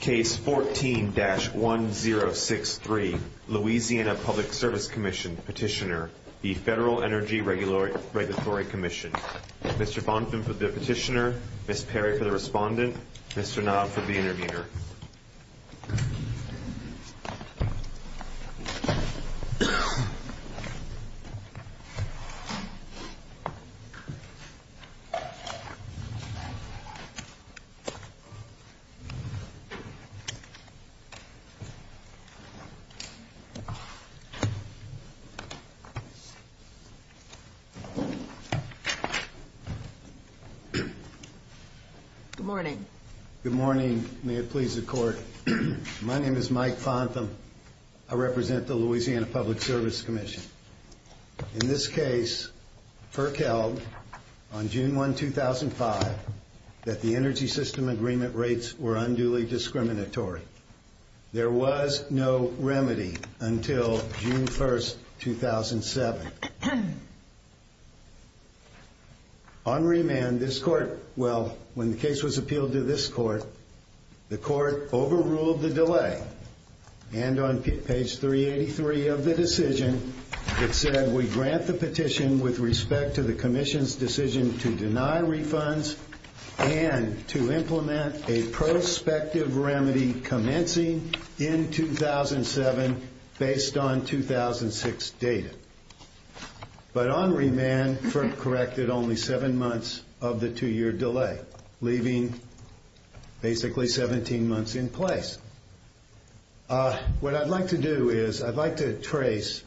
Case 14-1063, Louisiana Public Service Commission, Petitioner, the Federal Energy Regulatory Commission. Mr. Bonfin for the petitioner, Ms. Perry for the respondent, Mr. Knob for the intervener. Good morning. Good morning. May it please the Court. My name is Mike Fontham. I represent the Louisiana Public Service Commission. In this case, FERC held on June 1, 2005, that the energy system agreement rates were unduly discriminatory. There was no remedy until June 1, 2007. On remand, this Court, well, when the case was appealed to this Court, the Court overruled the delay. And on page 383 of the decision, it said, we grant the petition with respect to the Commission's decision to deny refunds and to implement a prospective remedy commencing in 2007 based on 2006 data. But on remand, FERC corrected only seven months of the two-year delay, leaving basically 17 months in place. What I'd like to do is I'd like to trace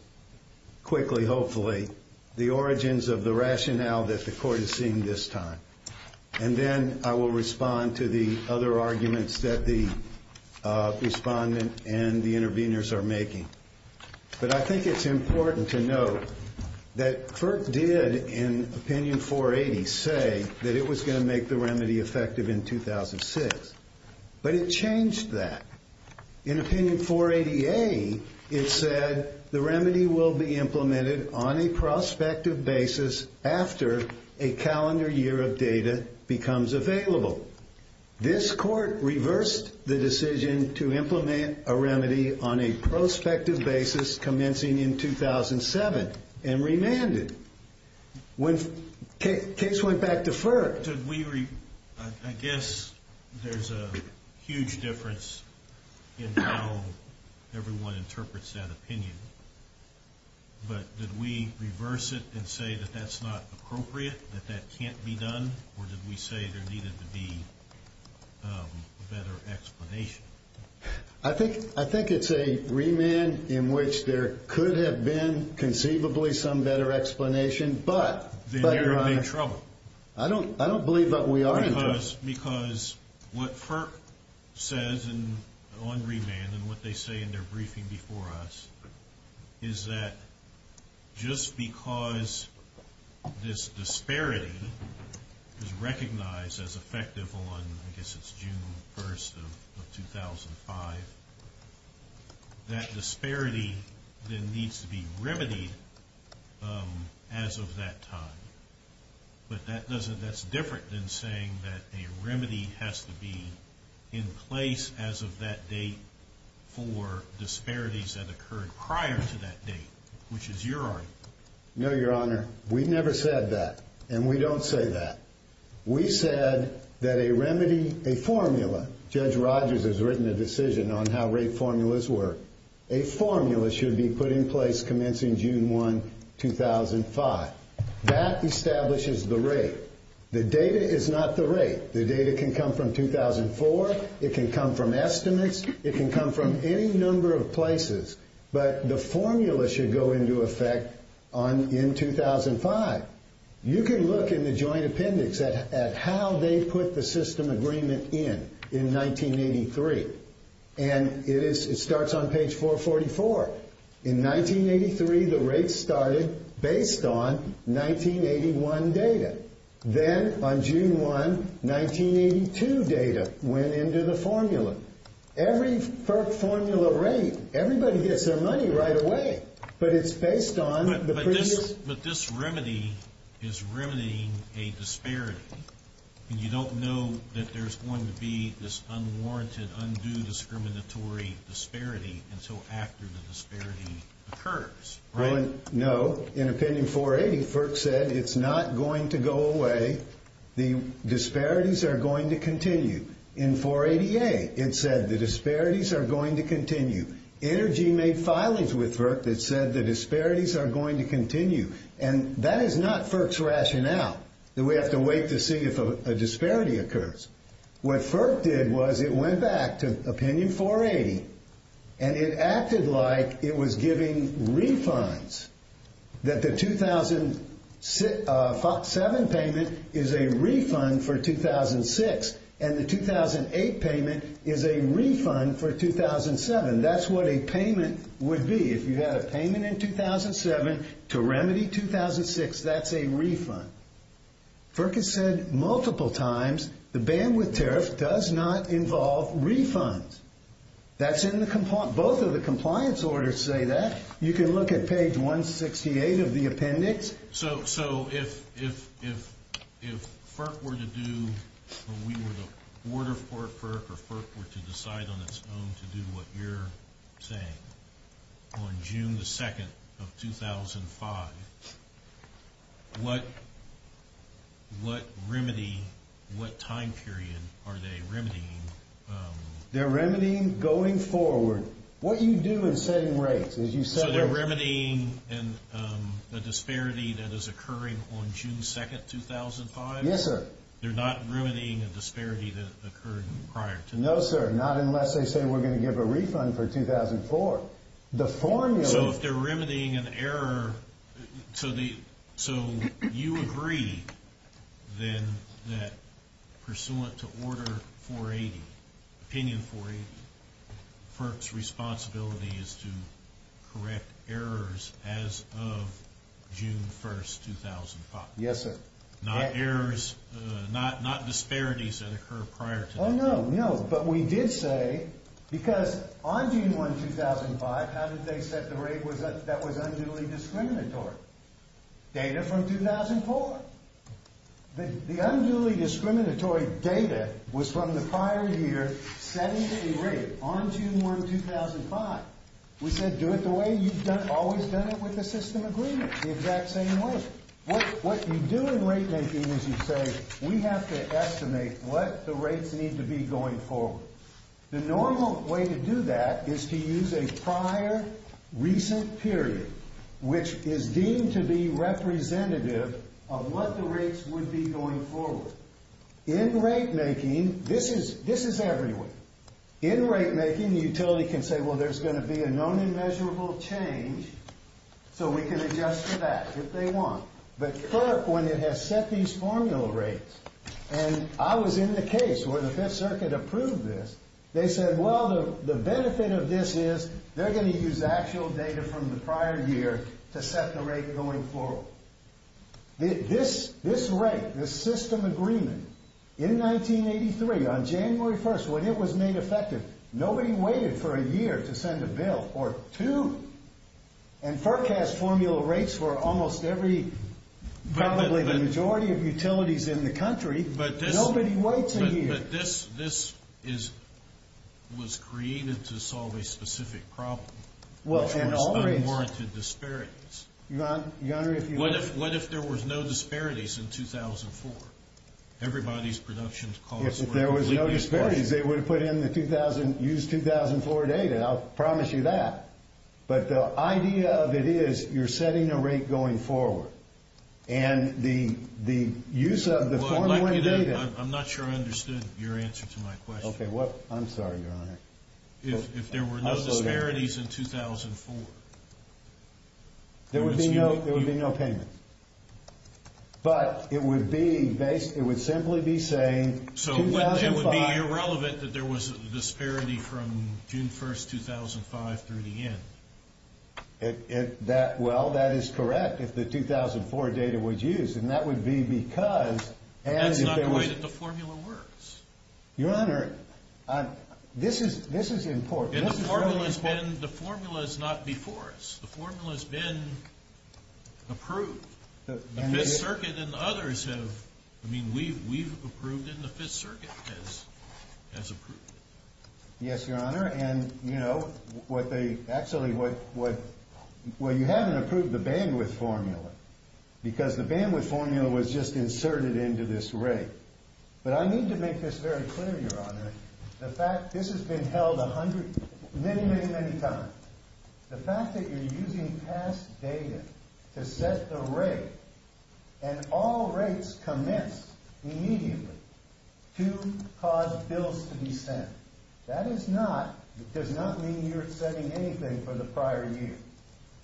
quickly, hopefully, the origins of the rationale that the Court is seeing this time. And then I will respond to the other arguments that the respondent and the interveners are making. But I think it's important to note that FERC did, in Opinion 480, say that it was going to make the remedy effective in 2006. But it changed that. In Opinion 480A, it said, the remedy will be implemented on a prospective basis after a calendar year of data becomes available. This Court reversed the decision to implement a remedy on a prospective basis commencing in 2007 and remanded. When the case went back to FERC, I guess there's a huge difference in how everyone interprets that opinion. But did we reverse it and say that that's not appropriate, that that can't be done, or did we say there needed to be a better explanation? I think it's a remand in which there could have been conceivably some better explanation. Then you're in big trouble. I don't believe that we are in trouble. Because what FERC says on remand and what they say in their briefing before us is that just because this disparity is recognized as effective on, I guess it's June 1st of 2005, that disparity then needs to be remedied as of that time. But that's different than saying that a remedy has to be in place as of that date for disparities that occurred prior to that date, which is your argument. No, Your Honor. We never said that, and we don't say that. We said that a remedy, a formula, Judge Rogers has written a decision on how rate formulas work. A formula should be put in place commencing June 1, 2005. That establishes the rate. The data is not the rate. The data can come from 2004. It can come from estimates. It can come from any number of places. But the formula should go into effect in 2005. You can look in the joint appendix at how they put the system agreement in in 1983. And it starts on page 444. In 1983, the rate started based on 1981 data. Then on June 1, 1982 data went into the formula. Every FERC formula rate, everybody gets their money right away. But it's based on the previous. But this remedy is remedying a disparity, and you don't know that there's going to be this unwarranted, undue discriminatory disparity until after the disparity occurs, right? No. In Opinion 480, FERC said it's not going to go away. The disparities are going to continue. Energy made filings with FERC that said the disparities are going to continue. And that is not FERC's rationale, that we have to wait to see if a disparity occurs. What FERC did was it went back to Opinion 480, and it acted like it was giving refunds, that the 2007 payment is a refund for 2006, and the 2008 payment is a refund for 2007. That's what a payment would be. If you had a payment in 2007 to remedy 2006, that's a refund. FERC has said multiple times the bandwidth tariff does not involve refunds. Both of the compliance orders say that. You can look at page 168 of the appendix. So if FERC were to do or we were to order FERC or FERC were to decide on its own to do what you're saying on June 2nd of 2005, what remedy, what time period are they remedying? They're remedying going forward. What you do in setting rates is you set rates. They're not remedying the disparity that is occurring on June 2nd, 2005? Yes, sir. They're not remedying a disparity that occurred prior to that? No, sir, not unless they say we're going to give a refund for 2004. So if they're remedying an error, so you agree then that pursuant to Order 480, opinion 480, FERC's responsibility is to correct errors as of June 1st, 2005? Yes, sir. Not errors, not disparities that occur prior to that? Oh, no, no. But we did say because on June 1st, 2005, how did they set the rate that was unduly discriminatory? Data from 2004. The unduly discriminatory data was from the prior year setting a rate on June 1st, 2005. We said do it the way you've always done it with the system agreement, the exact same way. What you do in rate making is you say we have to estimate what the rates need to be going forward. The normal way to do that is to use a prior recent period, which is deemed to be representative of what the rates would be going forward. In rate making, this is everywhere. In rate making, the utility can say, well, there's going to be a known and measurable change, so we can adjust to that if they want. But FERC, when it has set these formula rates, and I was in the case where the Fifth Circuit approved this, they said, well, the benefit of this is they're going to use actual data from the prior year to set the rate going forward. This rate, this system agreement, in 1983, on January 1st, when it was made effective, nobody waited for a year to send a bill or two, and FERC has formula rates for almost every, probably the majority of utilities in the country. Nobody waits a year. But this was created to solve a specific problem, which was unwarranted disparities. What if there was no disparities in 2004? Everybody's production costs were completely at fault. If there was no disparities, they would have put in the 2000, used 2004 data. I'll promise you that. But the idea of it is you're setting a rate going forward, and the use of the formula data I'm not sure I understood your answer to my question. I'm sorry, Your Honor. If there were no disparities in 2004. There would be no payment. But it would simply be saying 2005. So it would be irrelevant that there was a disparity from June 1st, 2005, through the end. Well, that is correct, if the 2004 data was used. And that would be because. That's not the way that the formula works. Your Honor, this is important. The formula is not before us. The formula has been approved. The Fifth Circuit and others have. I mean, we've approved, and the Fifth Circuit has approved it. Yes, Your Honor. And, you know, what they actually. Well, you haven't approved the bandwidth formula. Because the bandwidth formula was just inserted into this rate. But I need to make this very clear, Your Honor. The fact that this has been held many, many, many times. The fact that you're using past data to set the rate. And all rates commence immediately to cause bills to be sent. That does not mean you're setting anything for the prior year.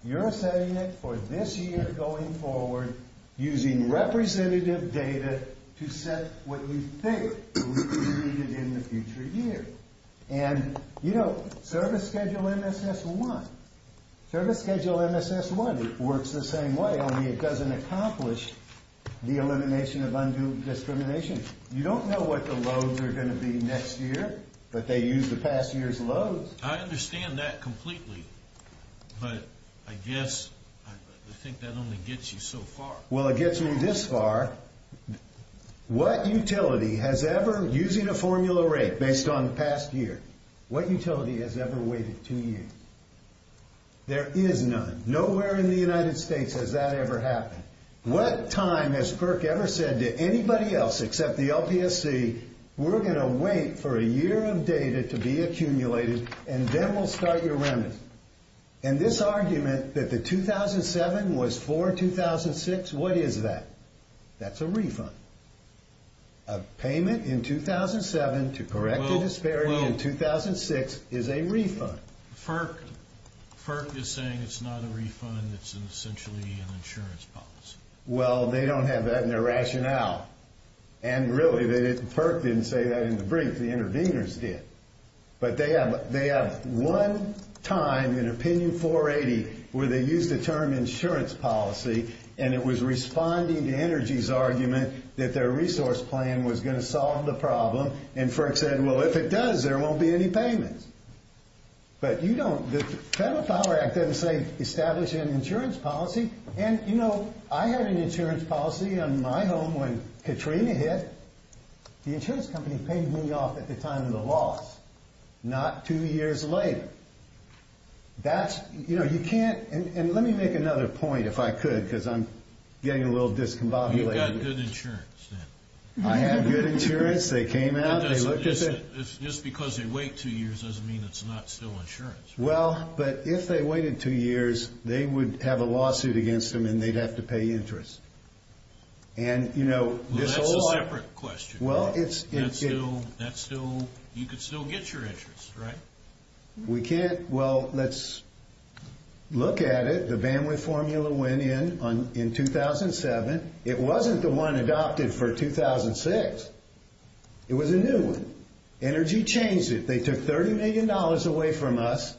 You're setting it for this year going forward. Using representative data to set what you think will be needed in the future year. And, you know, Service Schedule MSS 1. Service Schedule MSS 1. It works the same way, only it doesn't accomplish the elimination of undue discrimination. You don't know what the loads are going to be next year. But they use the past year's loads. I understand that completely. But I guess I think that only gets you so far. Well, it gets you this far. What utility has ever, using a formula rate based on past year. What utility has ever waited two years? There is none. Nowhere in the United States has that ever happened. What time has Burke ever said to anybody else except the LPSC, we're going to wait for a year of data to be accumulated and then we'll start your remit. And this argument that the 2007 was for 2006, what is that? That's a refund. A payment in 2007 to correct a disparity in 2006 is a refund. FERC is saying it's not a refund. It's essentially an insurance policy. Well, they don't have that in their rationale. And really, FERC didn't say that in the brief. The interveners did. But they have one time in Opinion 480 where they used the term insurance policy. And it was responding to Energy's argument that their resource plan was going to solve the problem. And FERC said, well, if it does, there won't be any payments. But you don't, the Federal Power Act doesn't say establish an insurance policy. And, you know, I had an insurance policy on my home when Katrina hit. The insurance company paid me off at the time of the loss, not two years later. That's, you know, you can't, and let me make another point if I could because I'm getting a little discombobulated. You've got good insurance then. I had good insurance. They came out and they looked at it. Just because they wait two years doesn't mean it's not still insurance. Well, but if they waited two years, they would have a lawsuit against them and they'd have to pay interest. And, you know, this whole. Well, that's a separate question. Well, it's. That's still, you could still get your interest, right? We can't. Well, let's look at it. The bandwidth formula went in in 2007. It wasn't the one adopted for 2006. It was a new one. Energy changed it. They took $30 million away from us.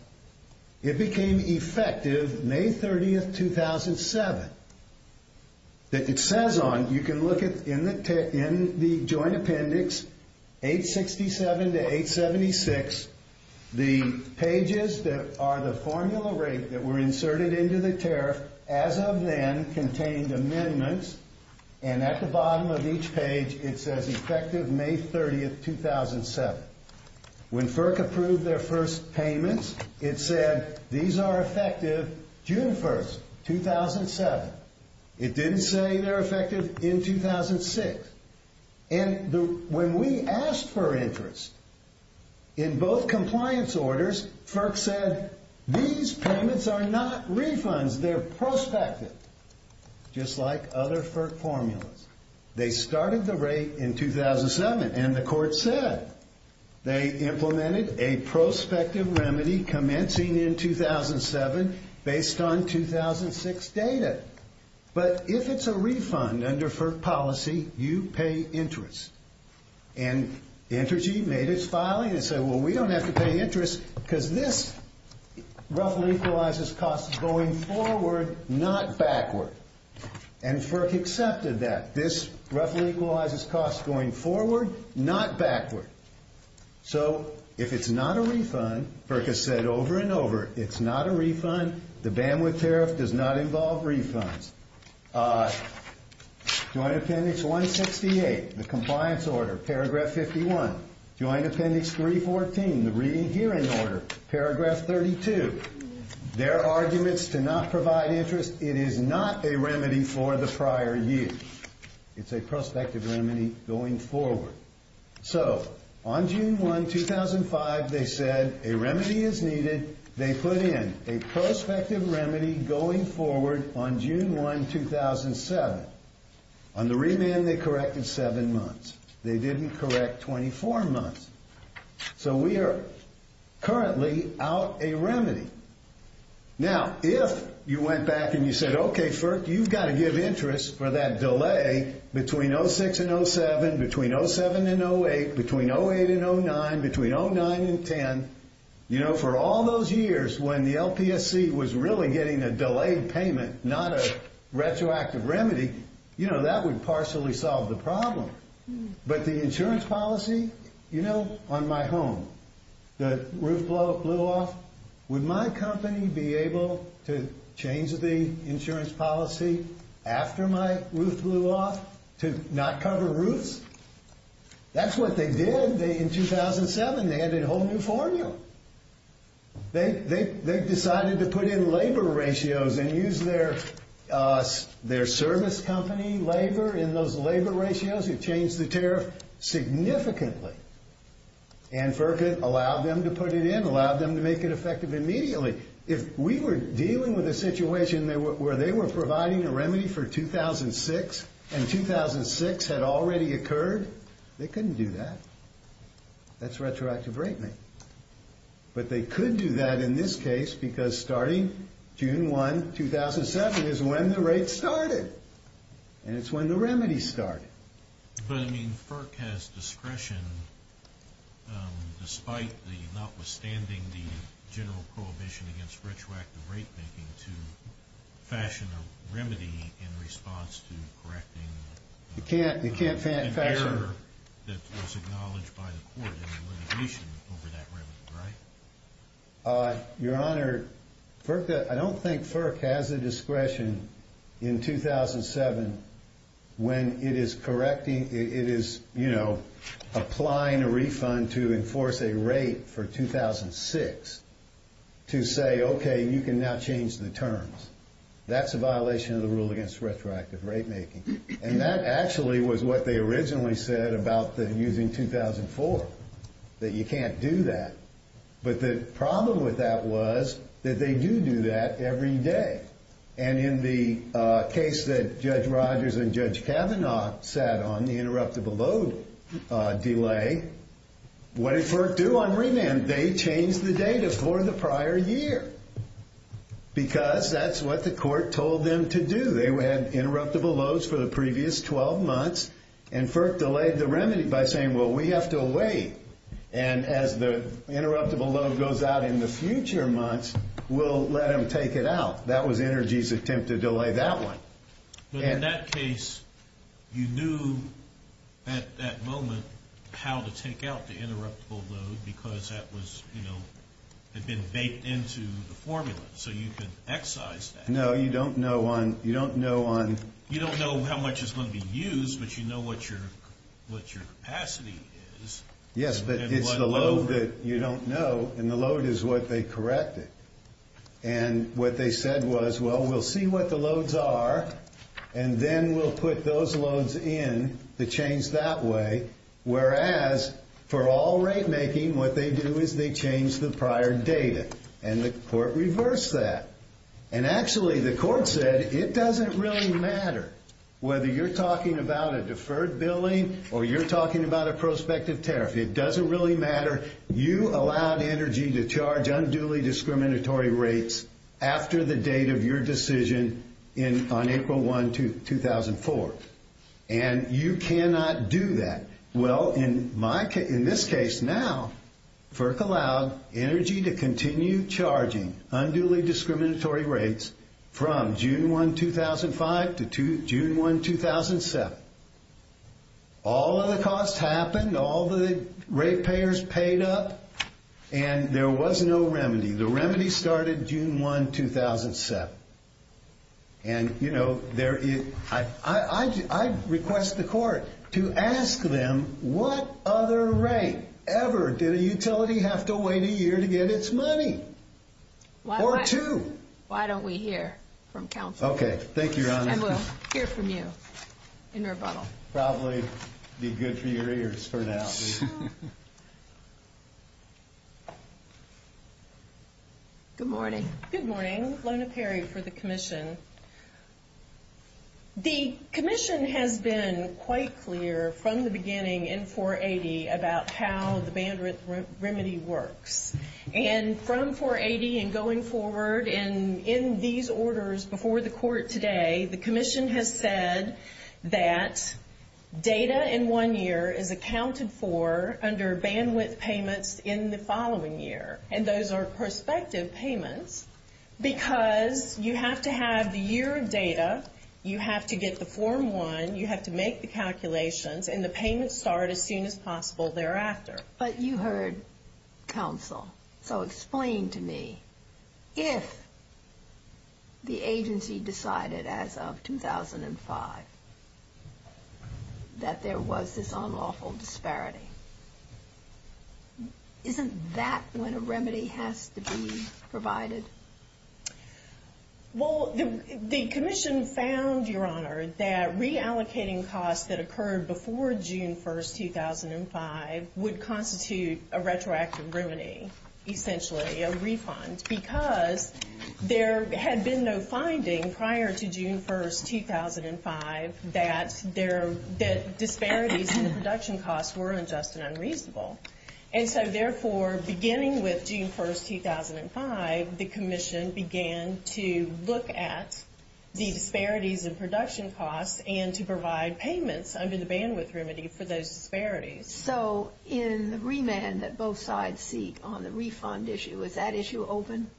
It became effective May 30th, 2007. That it says on, you can look at in the joint appendix, 867 to 876. The pages that are the formula rate that were inserted into the tariff as of then contained amendments. And at the bottom of each page, it says effective May 30th, 2007. When FERC approved their first payments, it said these are effective June 1st, 2007. It didn't say they're effective in 2006. And when we asked for interest in both compliance orders, FERC said these payments are not refunds. They're prospective. Just like other FERC formulas. They started the rate in 2007. And the court said they implemented a prospective remedy commencing in 2007 based on 2006 data. But if it's a refund under FERC policy, you pay interest. And Energy made its filing and said, well, we don't have to pay interest because this roughly equalizes costs going forward, not backward. And FERC accepted that. This roughly equalizes costs going forward, not backward. So if it's not a refund, FERC has said over and over, it's not a refund. The bandwidth tariff does not involve refunds. Joint appendix 168, the compliance order, paragraph 51. Joint appendix 314, the reading hearing order, paragraph 32. Their arguments to not provide interest, it is not a remedy for the prior year. It's a prospective remedy going forward. So on June 1, 2005, they said a remedy is needed. They put in a prospective remedy going forward on June 1, 2007. On the remand, they corrected seven months. They didn't correct 24 months. So we are currently out a remedy. Now, if you went back and you said, okay, FERC, you've got to give interest for that delay between 06 and 07, between 07 and 08, between 08 and 09, between 09 and 10. You know, for all those years when the LPSC was really getting a delayed payment, not a retroactive remedy, you know, that would partially solve the problem. But the insurance policy, you know, on my home, the roof blew off. Would my company be able to change the insurance policy after my roof blew off to not cover roofs? That's what they did in 2007. They added a whole new formula. They decided to put in labor ratios and use their service company labor in those labor ratios. It changed the tariff significantly. And FERC allowed them to put it in, allowed them to make it effective immediately. If we were dealing with a situation where they were providing a remedy for 2006 and 2006 had already occurred, they couldn't do that. That's retroactive rate making. But they could do that in this case because starting June 1, 2007, is when the rate started. And it's when the remedy started. But, I mean, FERC has discretion, despite the, notwithstanding the general prohibition against retroactive rate making, to fashion a remedy in response to correcting... An error that was acknowledged by the court in the litigation over that remedy, right? Your Honor, I don't think FERC has the discretion in 2007 when it is correcting, it is, you know, applying a refund to enforce a rate for 2006 to say, okay, you can now change the terms. That's a violation of the rule against retroactive rate making. And that actually was what they originally said about using 2004, that you can't do that. But the problem with that was that they do do that every day. And in the case that Judge Rogers and Judge Kavanaugh sat on, the interruptible load delay, what did FERC do on remand? They changed the data for the prior year. Because that's what the court told them to do. They had interruptible loads for the previous 12 months. And FERC delayed the remedy by saying, well, we have to wait. And as the interruptible load goes out in the future months, we'll let them take it out. That was Energy's attempt to delay that one. But in that case, you knew at that moment how to take out the interruptible load because that was, you know, had been baked into the formula. So you could excise that. No, you don't know on. You don't know how much is going to be used, but you know what your capacity is. Yes, but it's the load that you don't know. And the load is what they corrected. And what they said was, well, we'll see what the loads are. And then we'll put those loads in to change that way. Whereas for all rate making, what they do is they change the prior data. And the court reversed that. And actually, the court said it doesn't really matter whether you're talking about a deferred billing or you're talking about a prospective tariff. It doesn't really matter. You allowed Energy to charge unduly discriminatory rates after the date of your decision on April 1, 2004. And you cannot do that. Well, in this case now, FERC allowed Energy to continue charging unduly discriminatory rates from June 1, 2005 to June 1, 2007. All of the costs happened. All the rate payers paid up. And there was no remedy. The remedy started June 1, 2007. And I request the court to ask them, what other rate ever did a utility have to wait a year to get its money? Or two? Why don't we hear from counsel? OK, thank you, Your Honor. And we'll hear from you in rebuttal. Probably be good for your ears for now. Good morning. Good morning. I'm Lona Perry for the commission. The commission has been quite clear from the beginning in 480 about how the bandwidth remedy works. And from 480 and going forward and in these orders before the court today, the commission has said that data in one year is accounted for under bandwidth payments in the following year. And those are prospective payments because you have to have the year of data, you have to get the form one, you have to make the calculations, and the payments start as soon as possible thereafter. But you heard counsel. So explain to me, if the agency decided as of 2005 that there was this unlawful disparity, isn't that when a remedy has to be provided? Well, the commission found, Your Honor, that reallocating costs that occurred before June 1st, 2005, would constitute a retroactive remedy, essentially a refund, because there had been no finding prior to June 1st, 2005, that disparities in the production costs were unjust and unreasonable. And so, therefore, beginning with June 1st, 2005, the commission began to look at the disparities in production costs and to provide payments under the bandwidth remedy for those disparities. So in the remand that both sides seek on the refund issue, is that issue open?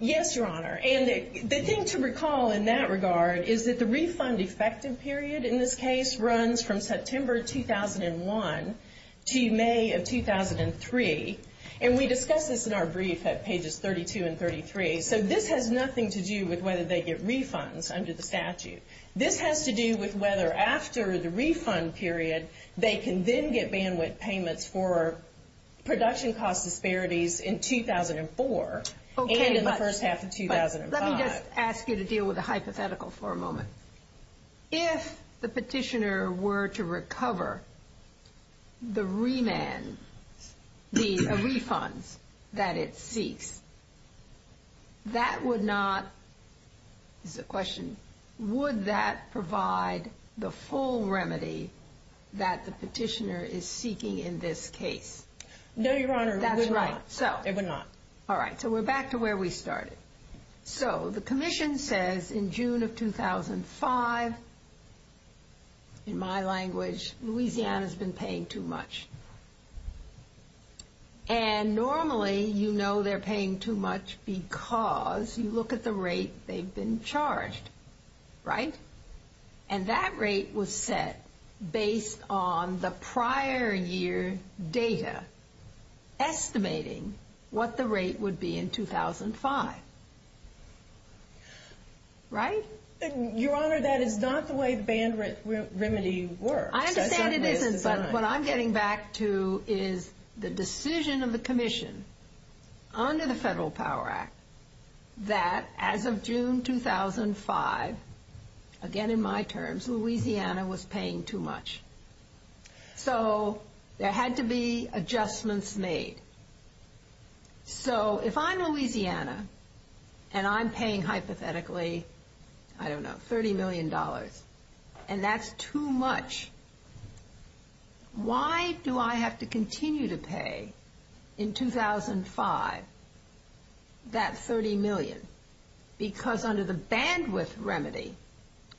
Yes, Your Honor. And the thing to recall in that regard is that the refund effective period in this case runs from September 2001 to May of 2003. And we discussed this in our brief at pages 32 and 33. So this has nothing to do with whether they get refunds under the statute. This has to do with whether after the refund period, they can then get bandwidth payments for production cost disparities in 2004 and in the first half of 2005. Let me just ask you to deal with the hypothetical for a moment. If the petitioner were to recover the remand, the refunds that it seeks, that would not, this is a question, would that provide the full remedy that the petitioner is seeking in this case? No, Your Honor, it would not. All right, so we're back to where we started. So the commission says in June of 2005, in my language, Louisiana's been paying too much. And normally you know they're paying too much because you look at the rate they've been charged, right? And that rate was set based on the prior year data, estimating what the rate would be in 2005. Right? Your Honor, that is not the way bandwidth remedy works. I understand it isn't, but what I'm getting back to is the decision of the commission under the Federal Power Act that as of June 2005, again in my terms, Louisiana was paying too much. So there had to be adjustments made. So if I'm Louisiana and I'm paying hypothetically, I don't know, $30 million, and that's too much, why do I have to continue to pay in 2005 that $30 million? Because under the bandwidth remedy,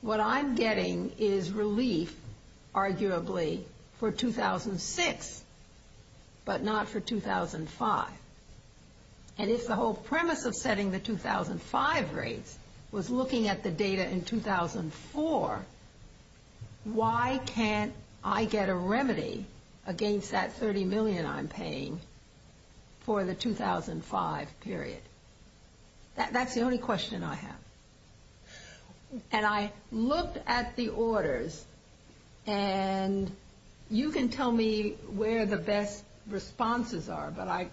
what I'm getting is relief arguably for 2006, but not for 2005. And if the whole premise of setting the 2005 rates was looking at the data in 2004, why can't I get a remedy against that $30 million I'm paying for the 2005 period? That's the only question I have. And I looked at the orders, and you can tell me where the best responses are, but I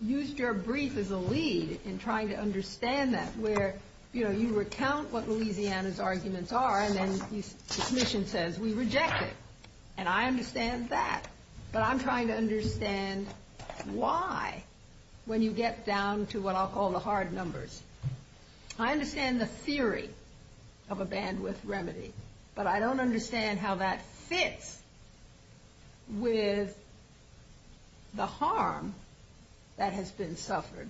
used your brief as a lead in trying to understand that, where you recount what Louisiana's arguments are, and then the commission says, we reject it. And I understand that, but I'm trying to understand why when you get down to what I'll call the hard numbers. I understand the theory of a bandwidth remedy, but I don't understand how that fits with the harm that has been suffered,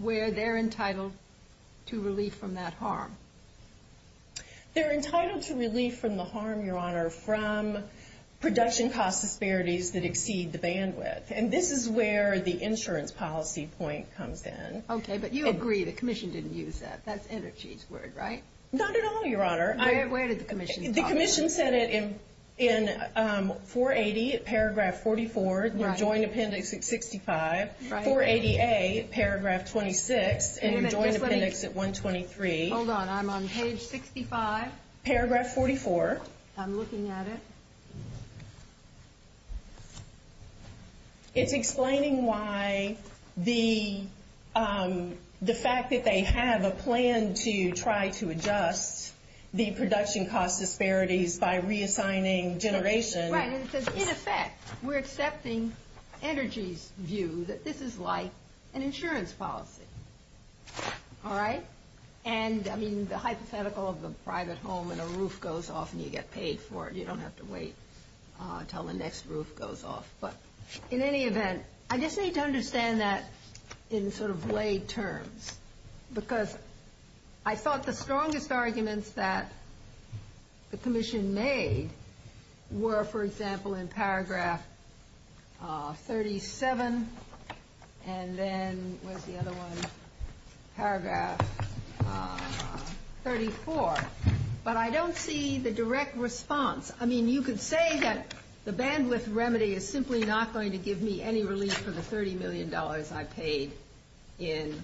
where they're entitled to relief from that harm. They're entitled to relief from the harm, Your Honor, from production cost disparities that exceed the bandwidth. And this is where the insurance policy point comes in. Okay, but you agree the commission didn't use that. That's Energy's word, right? Not at all, Your Honor. Where did the commission talk about it? The commission said it in 480, paragraph 44, and you're joined appendix at 65. 480A, paragraph 26, and you're joined appendix at 123. Hold on, I'm on page 65. Paragraph 44. I'm looking at it. It's explaining why the fact that they have a plan to try to adjust the production cost disparities by reassigning generation. Right, and it says, in effect, we're accepting Energy's view that this is like an insurance policy. All right? And, I mean, the hypothetical of a private home and a roof goes off and you get paid for it. You don't have to wait until the next roof goes off. But in any event, I just need to understand that in sort of laid terms, because I thought the strongest arguments that the commission made were, for example, in paragraph 37, and then, where's the other one? Paragraph 34. But I don't see the direct response. I mean, you could say that the bandwidth remedy is simply not going to give me any relief for the $30 million I paid in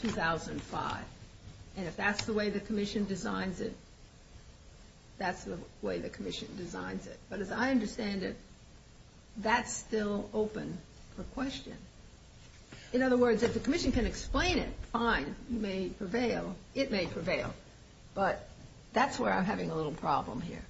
2005. And if that's the way the commission designs it, that's the way the commission designs it. But as I understand it, that's still open for question. In other words, if the commission can explain it, fine. You may prevail. It may prevail. But that's where I'm having a little problem here.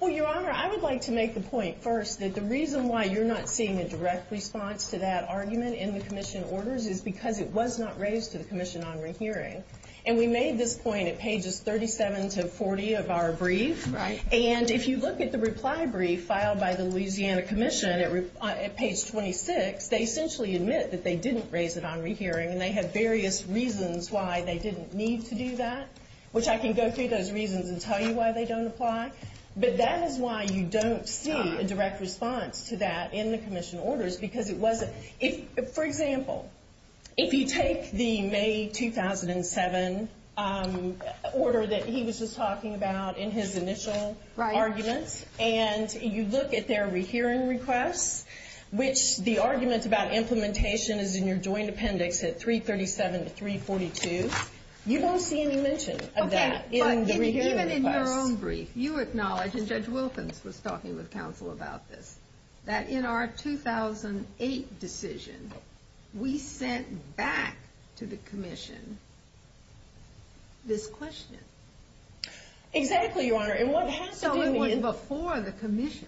Well, Your Honor, I would like to make the point first that the reason why you're not seeing a direct response to that argument in the commission orders is because it was not raised to the commission on rehearing. And we made this point at pages 37 to 40 of our brief. And if you look at the reply brief filed by the Louisiana Commission at page 26, they essentially admit that they didn't raise it on rehearing, and they have various reasons why they didn't need to do that, which I can go through those reasons and tell you why they don't apply. But that is why you don't see a direct response to that in the commission orders, because it wasn't. For example, if you take the May 2007 order that he was just talking about in his initial arguments, and you look at their rehearing requests, which the argument about implementation is in your joint appendix at 337 to 342, you don't see any mention of that in the rehearing requests. Okay, but even in your own brief, you acknowledge, and Judge Wilkins was talking with counsel about this, that in our 2008 decision, we sent back to the commission this question. Exactly, Your Honor. So it wasn't before the commission.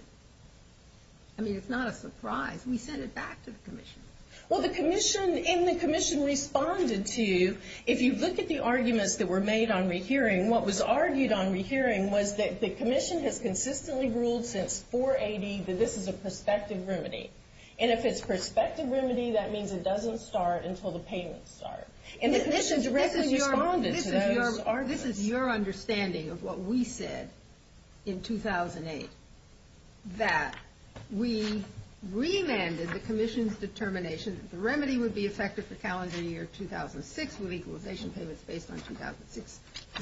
I mean, it's not a surprise. We sent it back to the commission. Well, the commission in the commission responded to, if you look at the arguments that were made on rehearing, what was argued on rehearing was that the commission has consistently ruled since 480 that this is a prospective remedy. And if it's a prospective remedy, that means it doesn't start until the payments start. And the commission directly responded to those arguments. This is your understanding of what we said in 2008, that we remanded the commission's determination that the remedy would be effective for calendar year 2006 with equalization payments based on 2006.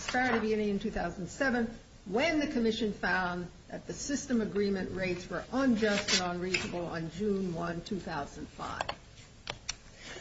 Prior to beginning in 2007, when the commission found that the system agreement rates were unjust and unreasonable on June 1, 2005.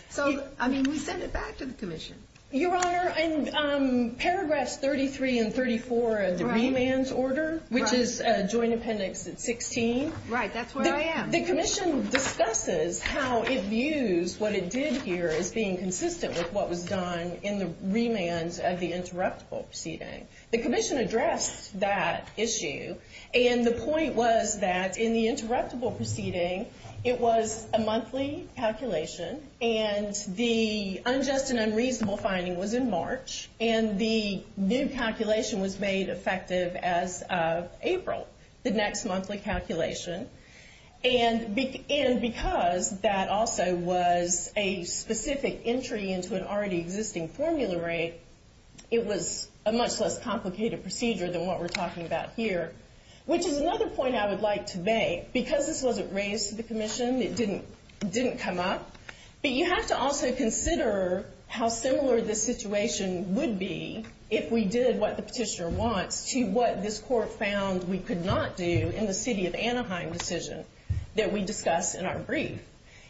So, I mean, we sent it back to the commission. Your Honor, in paragraphs 33 and 34 of the remand order, which is joint appendix 16. Right, that's where I am. The commission discusses how it views what it did here as being consistent with what was done in the remands of the interruptible proceeding. The commission addressed that issue. And the point was that in the interruptible proceeding, it was a monthly calculation. And the unjust and unreasonable finding was in March. And the new calculation was made effective as of April, the next monthly calculation. And because that also was a specific entry into an already existing formula rate, it was a much less complicated procedure than what we're talking about here. Which is another point I would like to make. Because this wasn't raised to the commission, it didn't come up. But you have to also consider how similar this situation would be if we did what the petitioner wants to what this court found we could not do in the City of Anaheim decision that we discussed in our brief.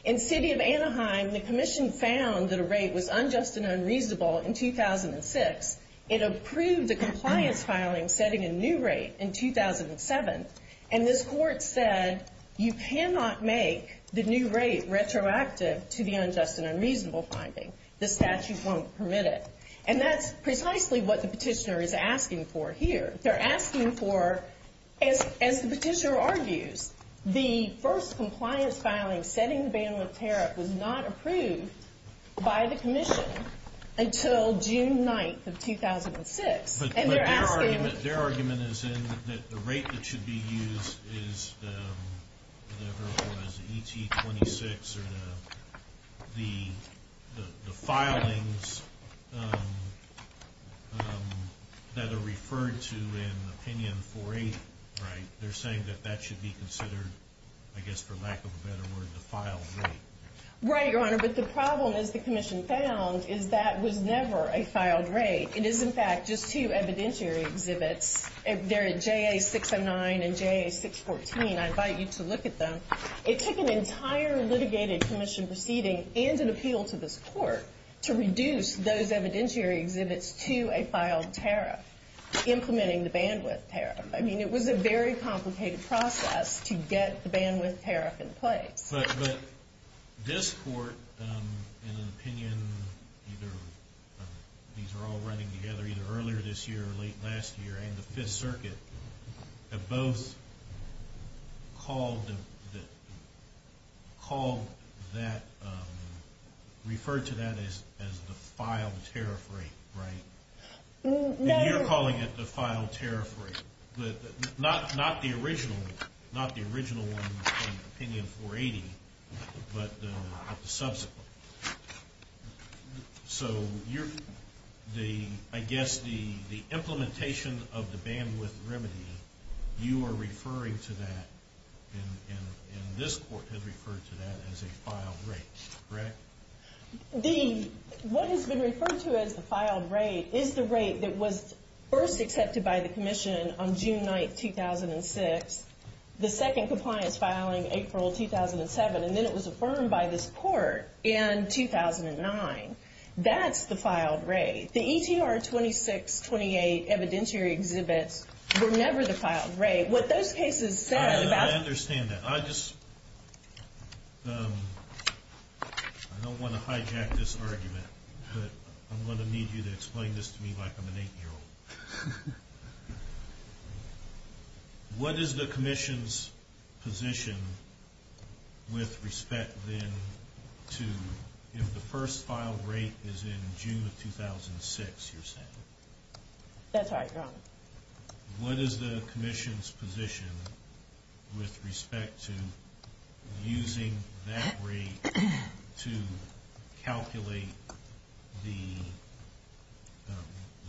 In City of Anaheim, the commission found that a rate was unjust and unreasonable in 2006. It approved the compliance filing setting a new rate in 2007. And this court said, you cannot make the new rate retroactive to the unjust and unreasonable finding. The statute won't permit it. And that's precisely what the petitioner is asking for here. They're asking for, as the petitioner argues, the first compliance filing setting the bandwidth tariff was not approved by the commission until June 9th of 2006. And they're asking... But their argument is in that the rate that should be used is whatever it was, ET26, or the filings that are referred to in Opinion 48, right? They're saying that that should be considered, I guess for lack of a better word, the filed rate. Right, Your Honor. But the problem, as the commission found, is that was never a filed rate. It is, in fact, just two evidentiary exhibits. They're at JA609 and JA614. I invite you to look at them. It took an entire litigated commission proceeding and an appeal to this court to reduce those evidentiary exhibits to a filed tariff, implementing the bandwidth tariff. I mean, it was a very complicated process to get the bandwidth tariff in place. But this court, in an opinion, either these are all running together either earlier this year or late last year, and the Fifth Circuit, have both called that... referred to that as the filed tariff rate, right? And you're calling it the filed tariff rate. Not the original one, not the original one in Opinion 480, but the subsequent. So you're... I guess the implementation of the bandwidth remedy, you are referring to that, and this court has referred to that as a filed rate, correct? The...what has been referred to as the filed rate is the rate that was first accepted by the commission on June 9, 2006, the second compliance filing, April 2007, and then it was affirmed by this court in 2009. That's the filed rate. The ETR 2628 evidentiary exhibits were never the filed rate. What those cases said about... I understand that. I just... I don't want to hijack this argument, but I'm going to need you to explain this to me like I'm an 8-year-old. What is the commission's position with respect then to... if the first filed rate is in June of 2006, you're saying? That's right, Your Honor. What is the commission's position with respect to using that rate to calculate the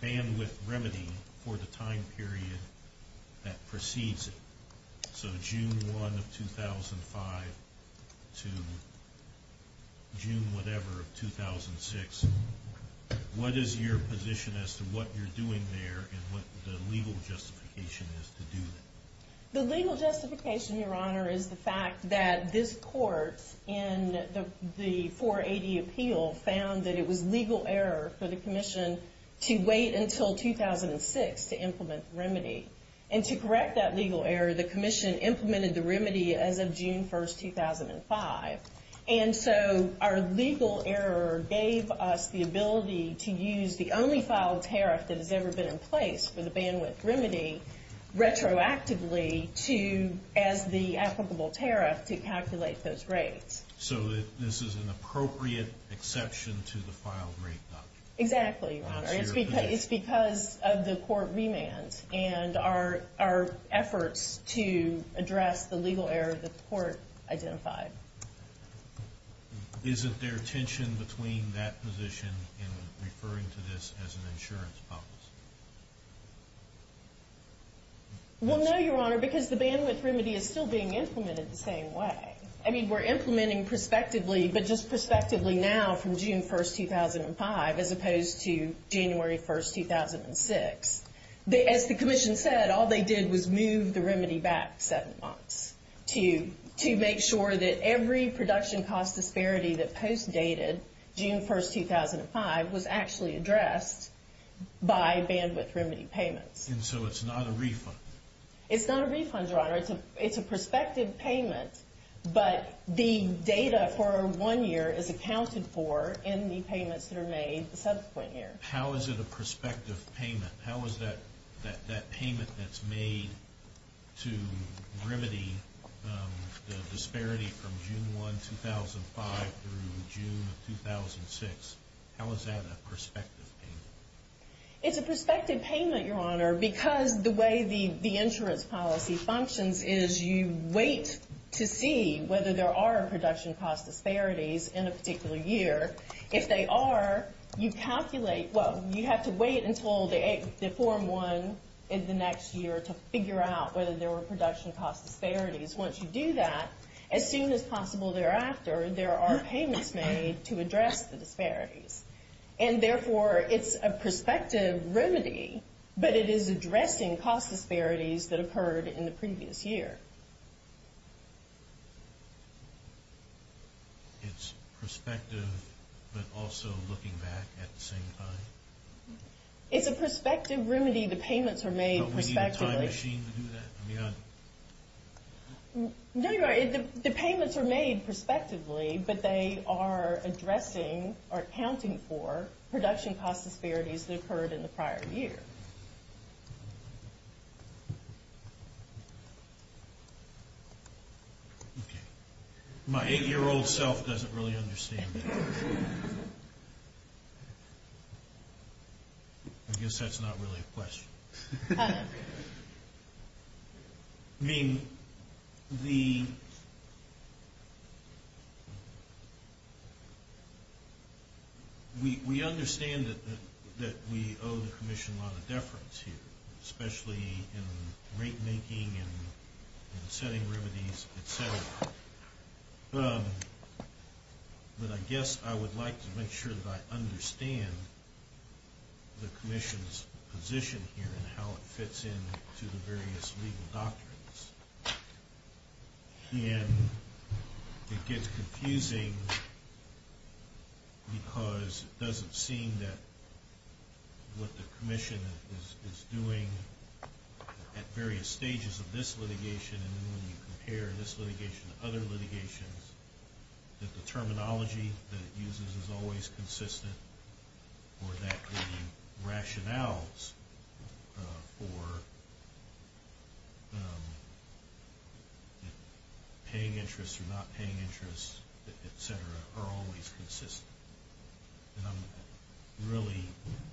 bandwidth remedy for the time period that precedes it? So June 1 of 2005 to June whatever of 2006. What is your position as to what you're doing there and what the legal justification is to do that? The legal justification, Your Honor, is the fact that this court in the 480 appeal found that it was legal error for the commission to wait until 2006 to implement the remedy. And to correct that legal error, the commission implemented the remedy as of June 1, 2005. And so our legal error gave us the ability to use the only filed tariff that has ever been in place for the bandwidth remedy retroactively as the applicable tariff to calculate those rates. So this is an appropriate exception to the filed rate doctrine. Exactly, Your Honor. It's because of the court remand and our efforts to address the legal error that the court identified. Isn't there tension between that position and referring to this as an insurance policy? Well, no, Your Honor, because the bandwidth remedy is still being implemented the same way. I mean, we're implementing prospectively, but just prospectively now from June 1, 2005 as opposed to January 1, 2006. As the commission said, all they did was move the remedy back seven months to make sure that every production cost disparity that post-dated June 1, 2005 was actually addressed by bandwidth remedy payments. And so it's not a refund? It's not a refund, Your Honor. It's a prospective payment, but the data for one year is accounted for in the payments that are made the subsequent year. How is it a prospective payment? How is that payment that's made to remedy the disparity from June 1, 2005 through June of 2006, how is that a prospective payment? It's a prospective payment, Your Honor, because the way the insurance policy functions is you wait to see whether there are production cost disparities in a particular year. If they are, you calculate, well, you have to wait until the Form 1 in the next year to figure out whether there were production cost disparities. Once you do that, as soon as possible thereafter, there are payments made to address the disparities. And therefore, it's a prospective remedy, but it is addressing cost disparities that occurred in the previous year. It's prospective, but also looking back at the same time? It's a prospective remedy. The payments are made prospectively. But we need a time machine to do that? No, Your Honor, the payments are made prospectively, but they are addressing or accounting for production cost disparities that occurred in the prior year. Okay. My 8-year-old self doesn't really understand that. I guess that's not really a question. I mean, the... We understand that we owe the Commission a lot of deference here, especially in rate making and setting remedies, et cetera. But I guess I would like to make sure that I understand the Commission's position here and how it fits in to the various legal doctrines. And it gets confusing because it doesn't seem that what the Commission is doing at various stages of this litigation and when you compare this litigation to other litigations, that the terminology that it uses is always consistent or that the rationales for paying interest or not paying interest, et cetera, are always consistent. And I'm really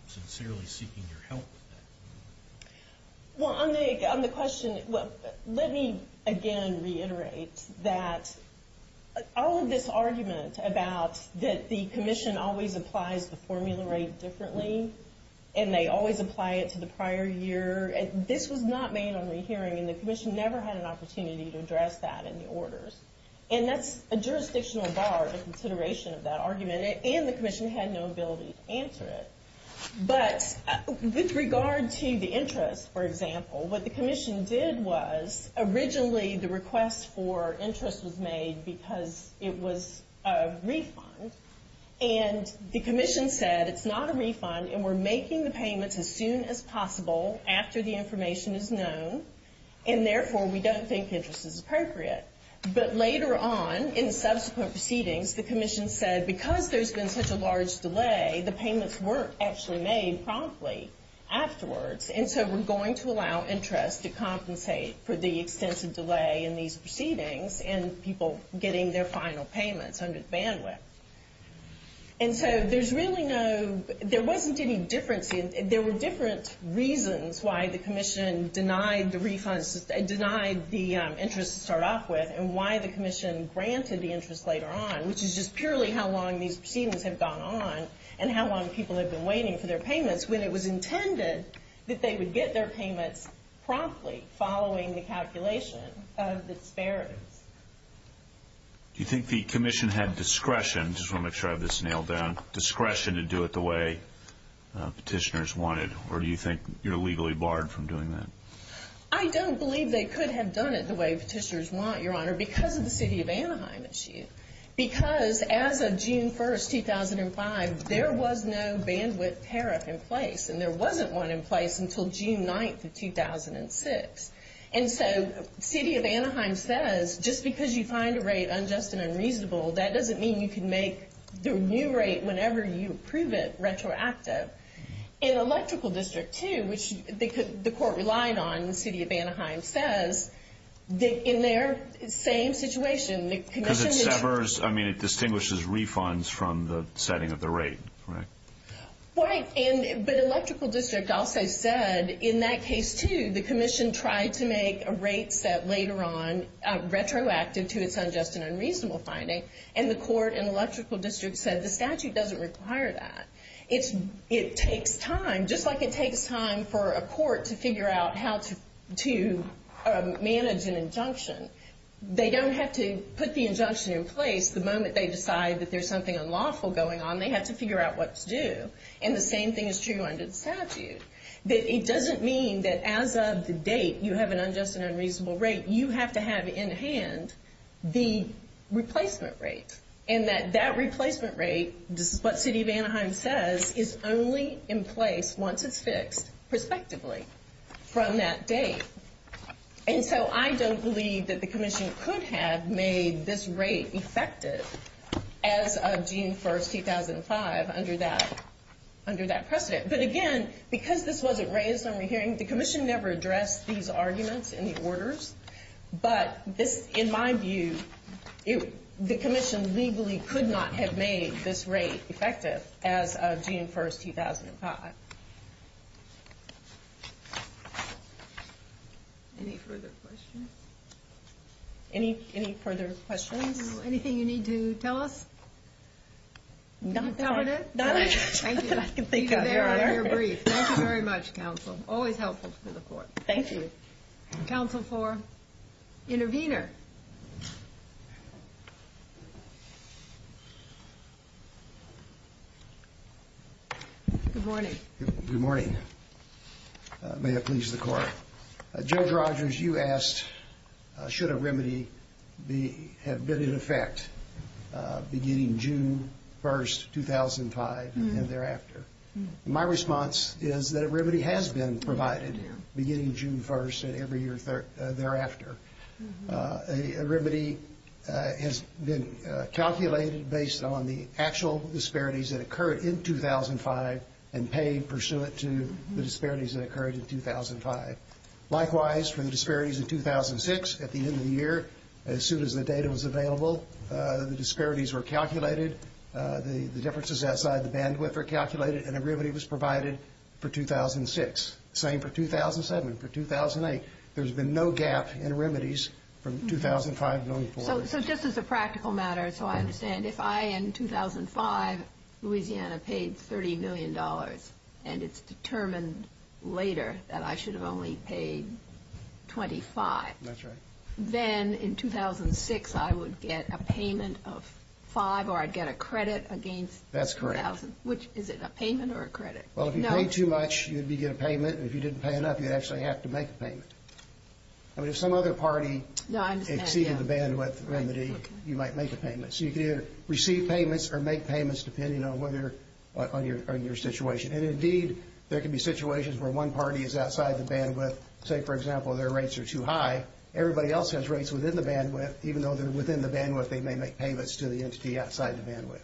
sincerely seeking your help with that. Well, on the question, let me again reiterate that all of this argument about that the Commission always applies the formula rate differently and they always apply it to the prior year, this was not made on the hearing and the Commission never had an opportunity to address that in the orders. And that's a jurisdictional bar, the consideration of that argument, and the Commission had no ability to answer it. But with regard to the interest, for example, what the Commission did was originally the request for interest was made because it was a refund. And the Commission said it's not a refund and we're making the payments as soon as possible after the information is known and therefore we don't think interest is appropriate. But later on in subsequent proceedings, the Commission said because there's been such a large delay, the payments weren't actually made promptly afterwards. And so we're going to allow interest to compensate for the extensive delay in these proceedings and people getting their final payments under the bandwidth. And so there's really no... There wasn't any difference in... There were different reasons why the Commission denied the refunds, denied the interest to start off with and why the Commission granted the interest later on, which is just purely how long these proceedings have gone on and how long people have been waiting for their payments when it was intended that they would get their payments promptly following the calculation of the disparities. Do you think the Commission had discretion... I just want to make sure I have this nailed down... discretion to do it the way petitioners wanted? Or do you think you're legally barred from doing that? I don't believe they could have done it the way petitioners want, Your Honor, because of the City of Anaheim issue. Because as of June 1, 2005, there was no bandwidth tariff in place and there wasn't one in place until June 9, 2006. And so City of Anaheim says, just because you find a rate unjust and unreasonable, that doesn't mean you can make the new rate, whenever you approve it, retroactive. In Electrical District 2, which the court relied on, and the City of Anaheim says, in their same situation, the Commission... Because it severs... I mean, it distinguishes refunds from the setting of the rate, right? Right, but Electrical District also said, in that case, too, the Commission tried to make a rate set later on retroactive to its unjust and unreasonable finding, and the court in Electrical District said, the statute doesn't require that. It takes time, just like it takes time for a court to figure out how to manage an injunction. They don't have to put the injunction in place the moment they decide that there's something unlawful going on. They have to figure out what to do, and the same thing is true under the statute. It doesn't mean that as of the date you have an unjust and unreasonable rate. You have to have in hand the replacement rate, and that that replacement rate, what City of Anaheim says, is only in place once it's fixed, prospectively, from that date. And so I don't believe that the Commission could have made this rate effective as of June 1st, 2005, under that precedent. But again, because this wasn't raised when we're hearing, the Commission never addressed these arguments in the orders, but in my view, the Commission legally could not have made this rate effective as of June 1st, 2005. Any further questions? Any further questions? Anything you need to tell us? Nothing. Thank you. Thank you very much, Counsel. Always helpful to the Court. Thank you. Counsel for Intervenor. Good morning. Good morning. May it please the Court. Judge Rogers, you asked, should a remedy have been in effect beginning June 1st, 2005, and thereafter? My response is that a remedy has been provided beginning June 1st and every year thereafter. A remedy has been calculated based on the actual disparities that occurred in 2005 and paid pursuant to the disparities that occurred in 2005. Likewise, for the disparities in 2006, at the end of the year, as soon as the data was available, the disparities were calculated, the differences outside the bandwidth were calculated, and a remedy was provided for 2006. Same for 2007, for 2008. There's been no gap in remedies from 2005 going forward. So just as a practical matter, so I understand, if I in 2005, Louisiana, paid $30 million, and it's determined later that I should have only paid $25 million. That's right. Then in 2006, I would get a payment of $5 million, or I'd get a credit against $10 million. That's correct. Which, is it a payment or a credit? Well, if you paid too much, you'd get a payment. If you didn't pay enough, you'd actually have to make a payment. I mean, if some other party exceeded the bandwidth remedy, you might make a payment. So you can either receive payments or make payments depending on your situation. And indeed, there can be situations where one party is outside the bandwidth. Say, for example, their rates are too high. Everybody else has rates within the bandwidth, even though they're within the bandwidth, they may make payments to the entity outside the bandwidth.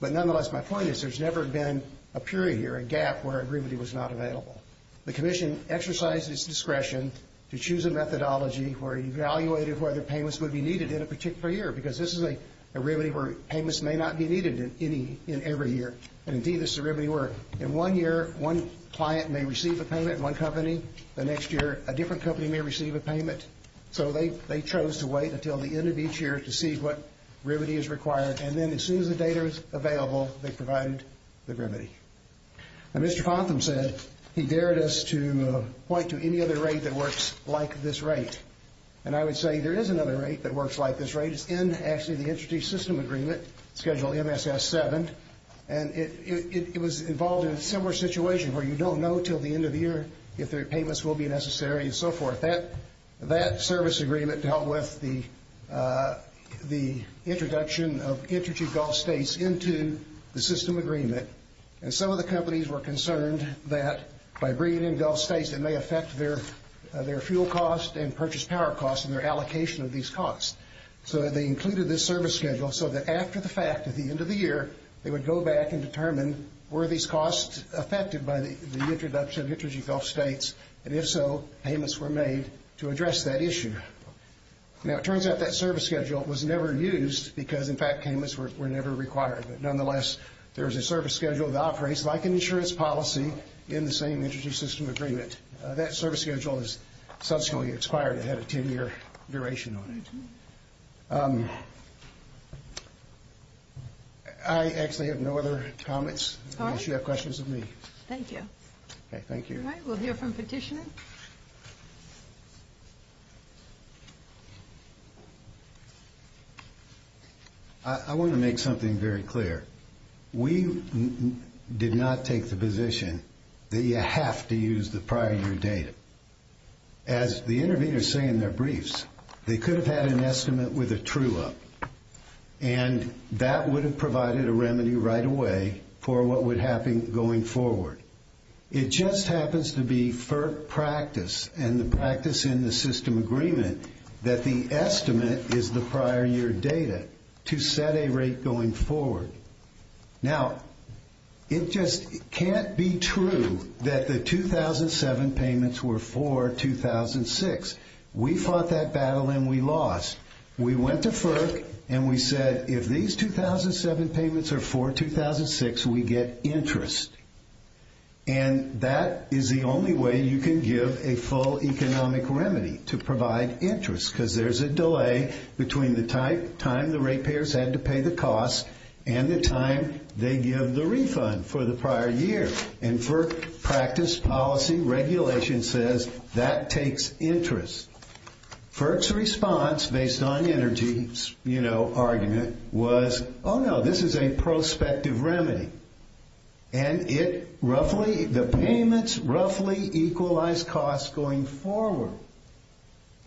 But nonetheless, my point is there's never been a period here, a gap where a remedy was not available. The Commission exercised its discretion to choose a methodology where it evaluated whether payments would be needed in a particular year And indeed, this is a remedy where in one year, one client may receive a payment in one company. The next year, a different company may receive a payment. So they chose to wait until the end of each year to see what remedy is required. And then as soon as the data was available, they provided the remedy. Now, Mr. Fontham said he dared us to point to any other rate that works like this rate. And I would say there is another rate that works like this rate. It's in, actually, the Energy System Agreement, Schedule MSS-7. And it was involved in a similar situation where you don't know until the end of the year if their payments will be necessary and so forth. That service agreement dealt with the introduction of energy Gulf states into the system agreement. And some of the companies were concerned that by bringing in Gulf states, it may affect their fuel costs and purchase power costs and their allocation of these costs. So they included this service schedule so that after the fact, at the end of the year, they would go back and determine were these costs affected by the introduction of energy Gulf states. And if so, payments were made to address that issue. Now, it turns out that service schedule was never used because, in fact, payments were never required. But nonetheless, there is a service schedule that operates like an insurance policy in the same energy system agreement. And that service schedule is substantially expired. It had a 10-year duration on it. I actually have no other comments unless you have questions of me. Thank you. Okay, thank you. All right, we'll hear from petitioner. I want to make something very clear. We did not take the position that you have to use the prior year data. As the interveners say in their briefs, they could have had an estimate with a true-up. And that would have provided a remedy right away for what would happen going forward. It just happens to be for practice and the practice in the system agreement that the estimate is the prior year data to set a rate going forward. Now, it just can't be true that the 2007 payments were for 2006. We fought that battle and we lost. We went to FERC and we said, if these 2007 payments are for 2006, we get interest. And that is the only way you can give a full economic remedy to provide interest because there's a delay between the time the rate payers had to pay the cost and the time they give the refund for the prior year. And FERC practice policy regulation says that takes interest. FERC's response based on energy's argument was, oh, no, this is a prospective remedy. And the payments roughly equalized costs going forward.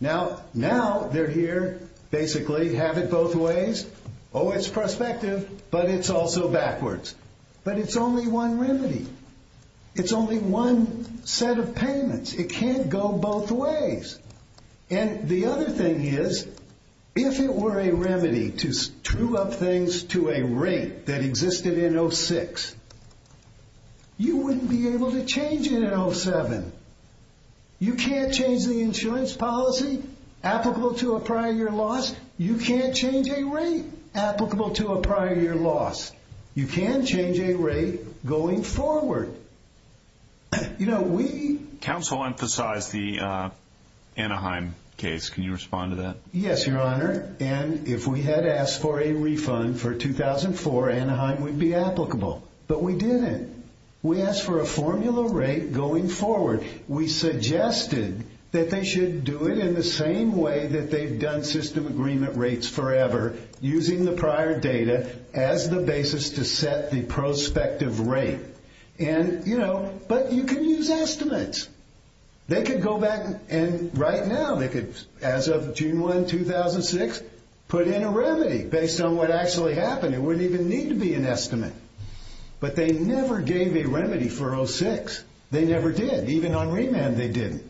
Now they're here, basically have it both ways. Oh, it's prospective, but it's also backwards. But it's only one remedy. It's only one set of payments. It can't go both ways. And the other thing is, if it were a remedy to true up things to a rate that existed in 2006, you wouldn't be able to change it in 2007. You can't change the insurance policy applicable to a prior year loss. You can't change a rate applicable to a prior year loss. You can change a rate going forward. You know, we ‑‑ Council emphasized the Anaheim case. Can you respond to that? Yes, Your Honor. And if we had asked for a refund for 2004, Anaheim would be applicable. But we didn't. We asked for a formula rate going forward. We suggested that they should do it in the same way that they've done system agreement rates forever, using the prior data as the basis to set the prospective rate. And, you know, but you can use estimates. They could go back and right now they could, as of June 1, 2006, put in a remedy based on what actually happened. It wouldn't even need to be an estimate. But they never gave a remedy for 06. They never did. Even on remand they didn't.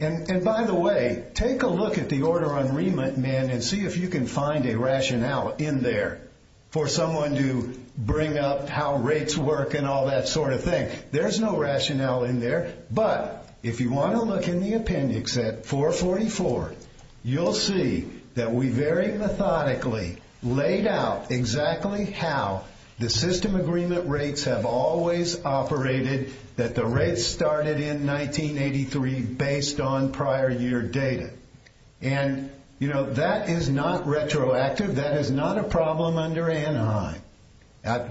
And by the way, take a look at the order on remand and see if you can find a rationale in there for someone to bring up how rates work and all that sort of thing. There's no rationale in there. But if you want to look in the appendix at 444, you'll see that we very methodically laid out exactly how the system agreement rates have always operated, that the rates started in 1983 based on prior year data. And, you know, that is not retroactive. That is not a problem under Anaheim.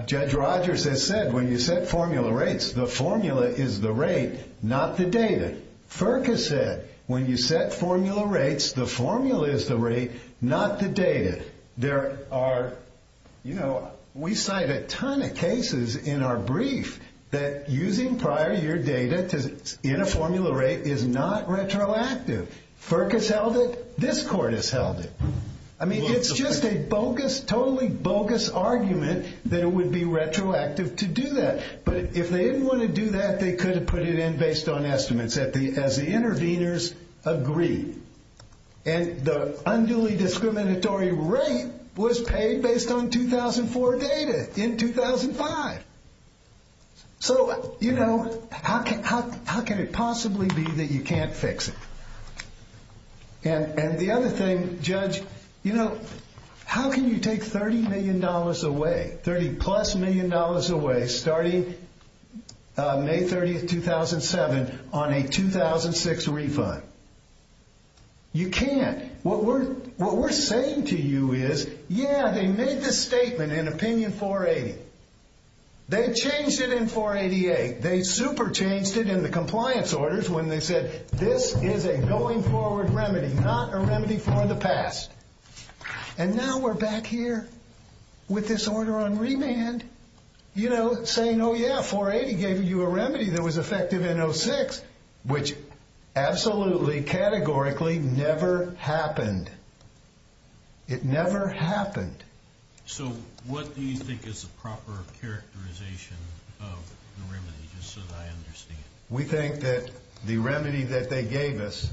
Judge Rogers has said when you set formula rates, the formula is the rate, not the data. FERC has said when you set formula rates, the formula is the rate, not the data. There are, you know, we cite a ton of cases in our brief that using prior year data in a formula rate is not retroactive. FERC has held it. This court has held it. I mean, it's just a bogus, totally bogus argument that it would be retroactive to do that. But if they didn't want to do that, they could have put it in based on estimates as the interveners agreed. And the unduly discriminatory rate was paid based on 2004 data in 2005. So, you know, how can it possibly be that you can't fix it? And the other thing, Judge, you know, how can you take $30 million away, $30 plus million away starting May 30, 2007, on a 2006 refund? You can't. What we're saying to you is, yeah, they made this statement in Opinion 480. They changed it in 488. They superchanged it in the compliance orders when they said, this is a going forward remedy, not a remedy for the past. And now we're back here with this order on remand, you know, saying, oh, yeah, 480 gave you a remedy that was effective in 06, which absolutely, categorically never happened. It never happened. So what do you think is the proper characterization of the remedy, just so that I understand? We think that the remedy that they gave us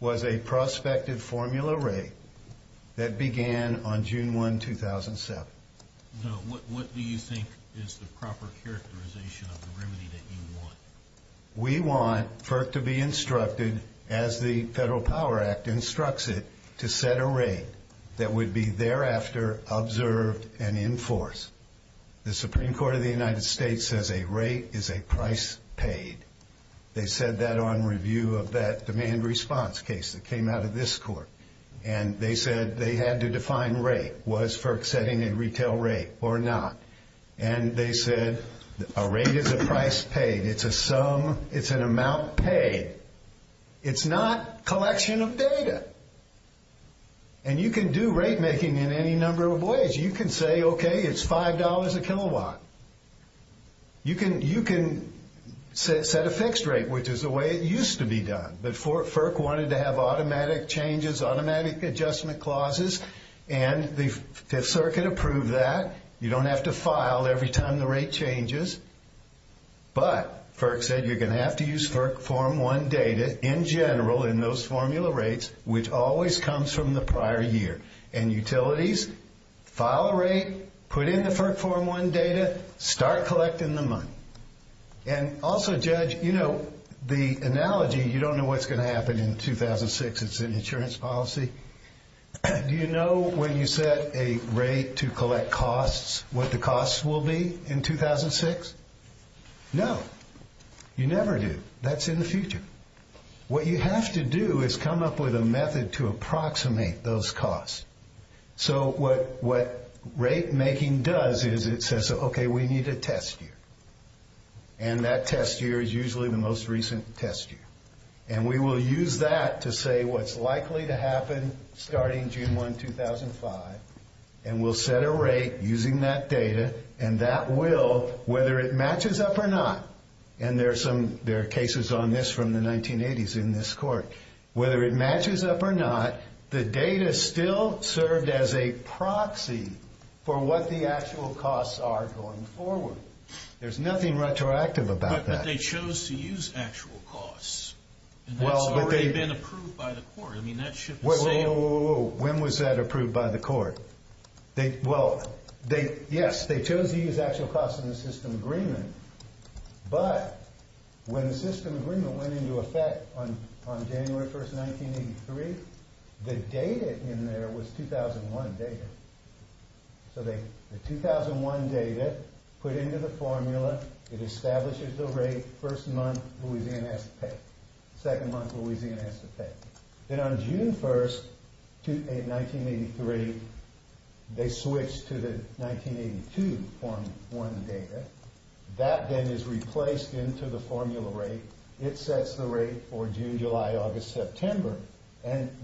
was a prospective formula rate that began on June 1, 2007. Now, what do you think is the proper characterization of the remedy that you want? We want for it to be instructed, as the Federal Power Act instructs it, to set a rate that would be thereafter observed and enforced. The Supreme Court of the United States says a rate is a price paid. They said that on review of that demand response case that came out of this court. And they said they had to define rate was for setting a retail rate or not. And they said a rate is a price paid. It's a sum. It's an amount paid. It's not collection of data. And you can do rate making in any number of ways. You can say, okay, it's $5 a kilowatt. You can set a fixed rate, which is the way it used to be done. But FERC wanted to have automatic changes, automatic adjustment clauses, and the Fifth Circuit approved that. You don't have to file every time the rate changes. But FERC said you're going to have to use FERC Form 1 data in general in those formula rates, which always comes from the prior year. And utilities file a rate, put in the FERC Form 1 data, start collecting the money. And also, Judge, you know, the analogy, you don't know what's going to happen in 2006. It's an insurance policy. Do you know when you set a rate to collect costs what the costs will be in 2006? No. You never do. That's in the future. What you have to do is come up with a method to approximate those costs. So what rate making does is it says, okay, we need a test year. And that test year is usually the most recent test year. And we will use that to say what's likely to happen starting June 1, 2005, and we'll set a rate using that data, and that will, whether it matches up or not, and there are cases on this from the 1980s in this court, whether it matches up or not, the data still served as a proxy for what the actual costs are going forward. There's nothing retroactive about that. But then they chose to use actual costs, and that's already been approved by the court. I mean, that should be safe. Whoa, whoa, whoa. When was that approved by the court? Well, yes, they chose to use actual costs in the system agreement, but when the system agreement went into effect on January 1, 1983, the data in there was 2001 data. So the 2001 data put into the formula. It establishes the rate. First month, Louisiana has to pay. Second month, Louisiana has to pay. Then on June 1, 1983, they switched to the 1982 Form 1 data. That then is replaced into the formula rate. It sets the rate for June, July, August, September.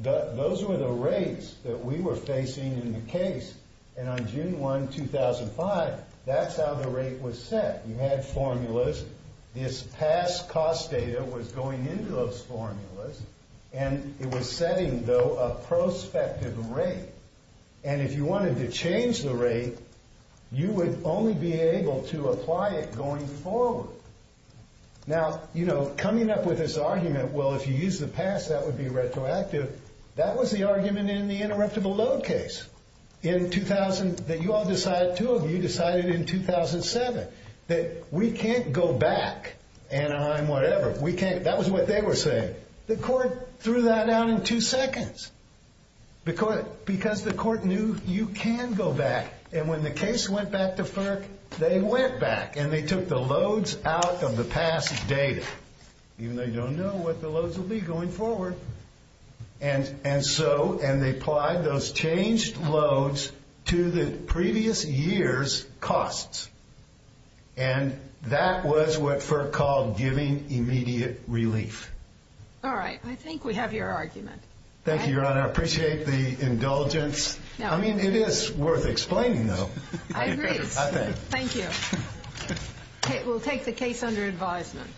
Those were the rates that we were facing in the case. On June 1, 2005, that's how the rate was set. You had formulas. This past cost data was going into those formulas, and it was setting, though, a prospective rate. If you wanted to change the rate, you would only be able to apply it going forward. Now, you know, coming up with this argument, well, if you use the past, that would be retroactive, that was the argument in the interruptible load case in 2000 that you all decided, two of you decided in 2007, that we can't go back and I'm whatever. We can't. That was what they were saying. The court threw that out in two seconds because the court knew you can go back, and when the case went back to FERC, they went back, and they took the loads out of the past data, even though you don't know what the loads will be going forward, and they applied those changed loads to the previous year's costs, and that was what FERC called giving immediate relief. All right. I think we have your argument. Thank you, Your Honor. I appreciate the indulgence. I mean, it is worth explaining, though. I agree. I think. Thank you. We'll take the case under advisement.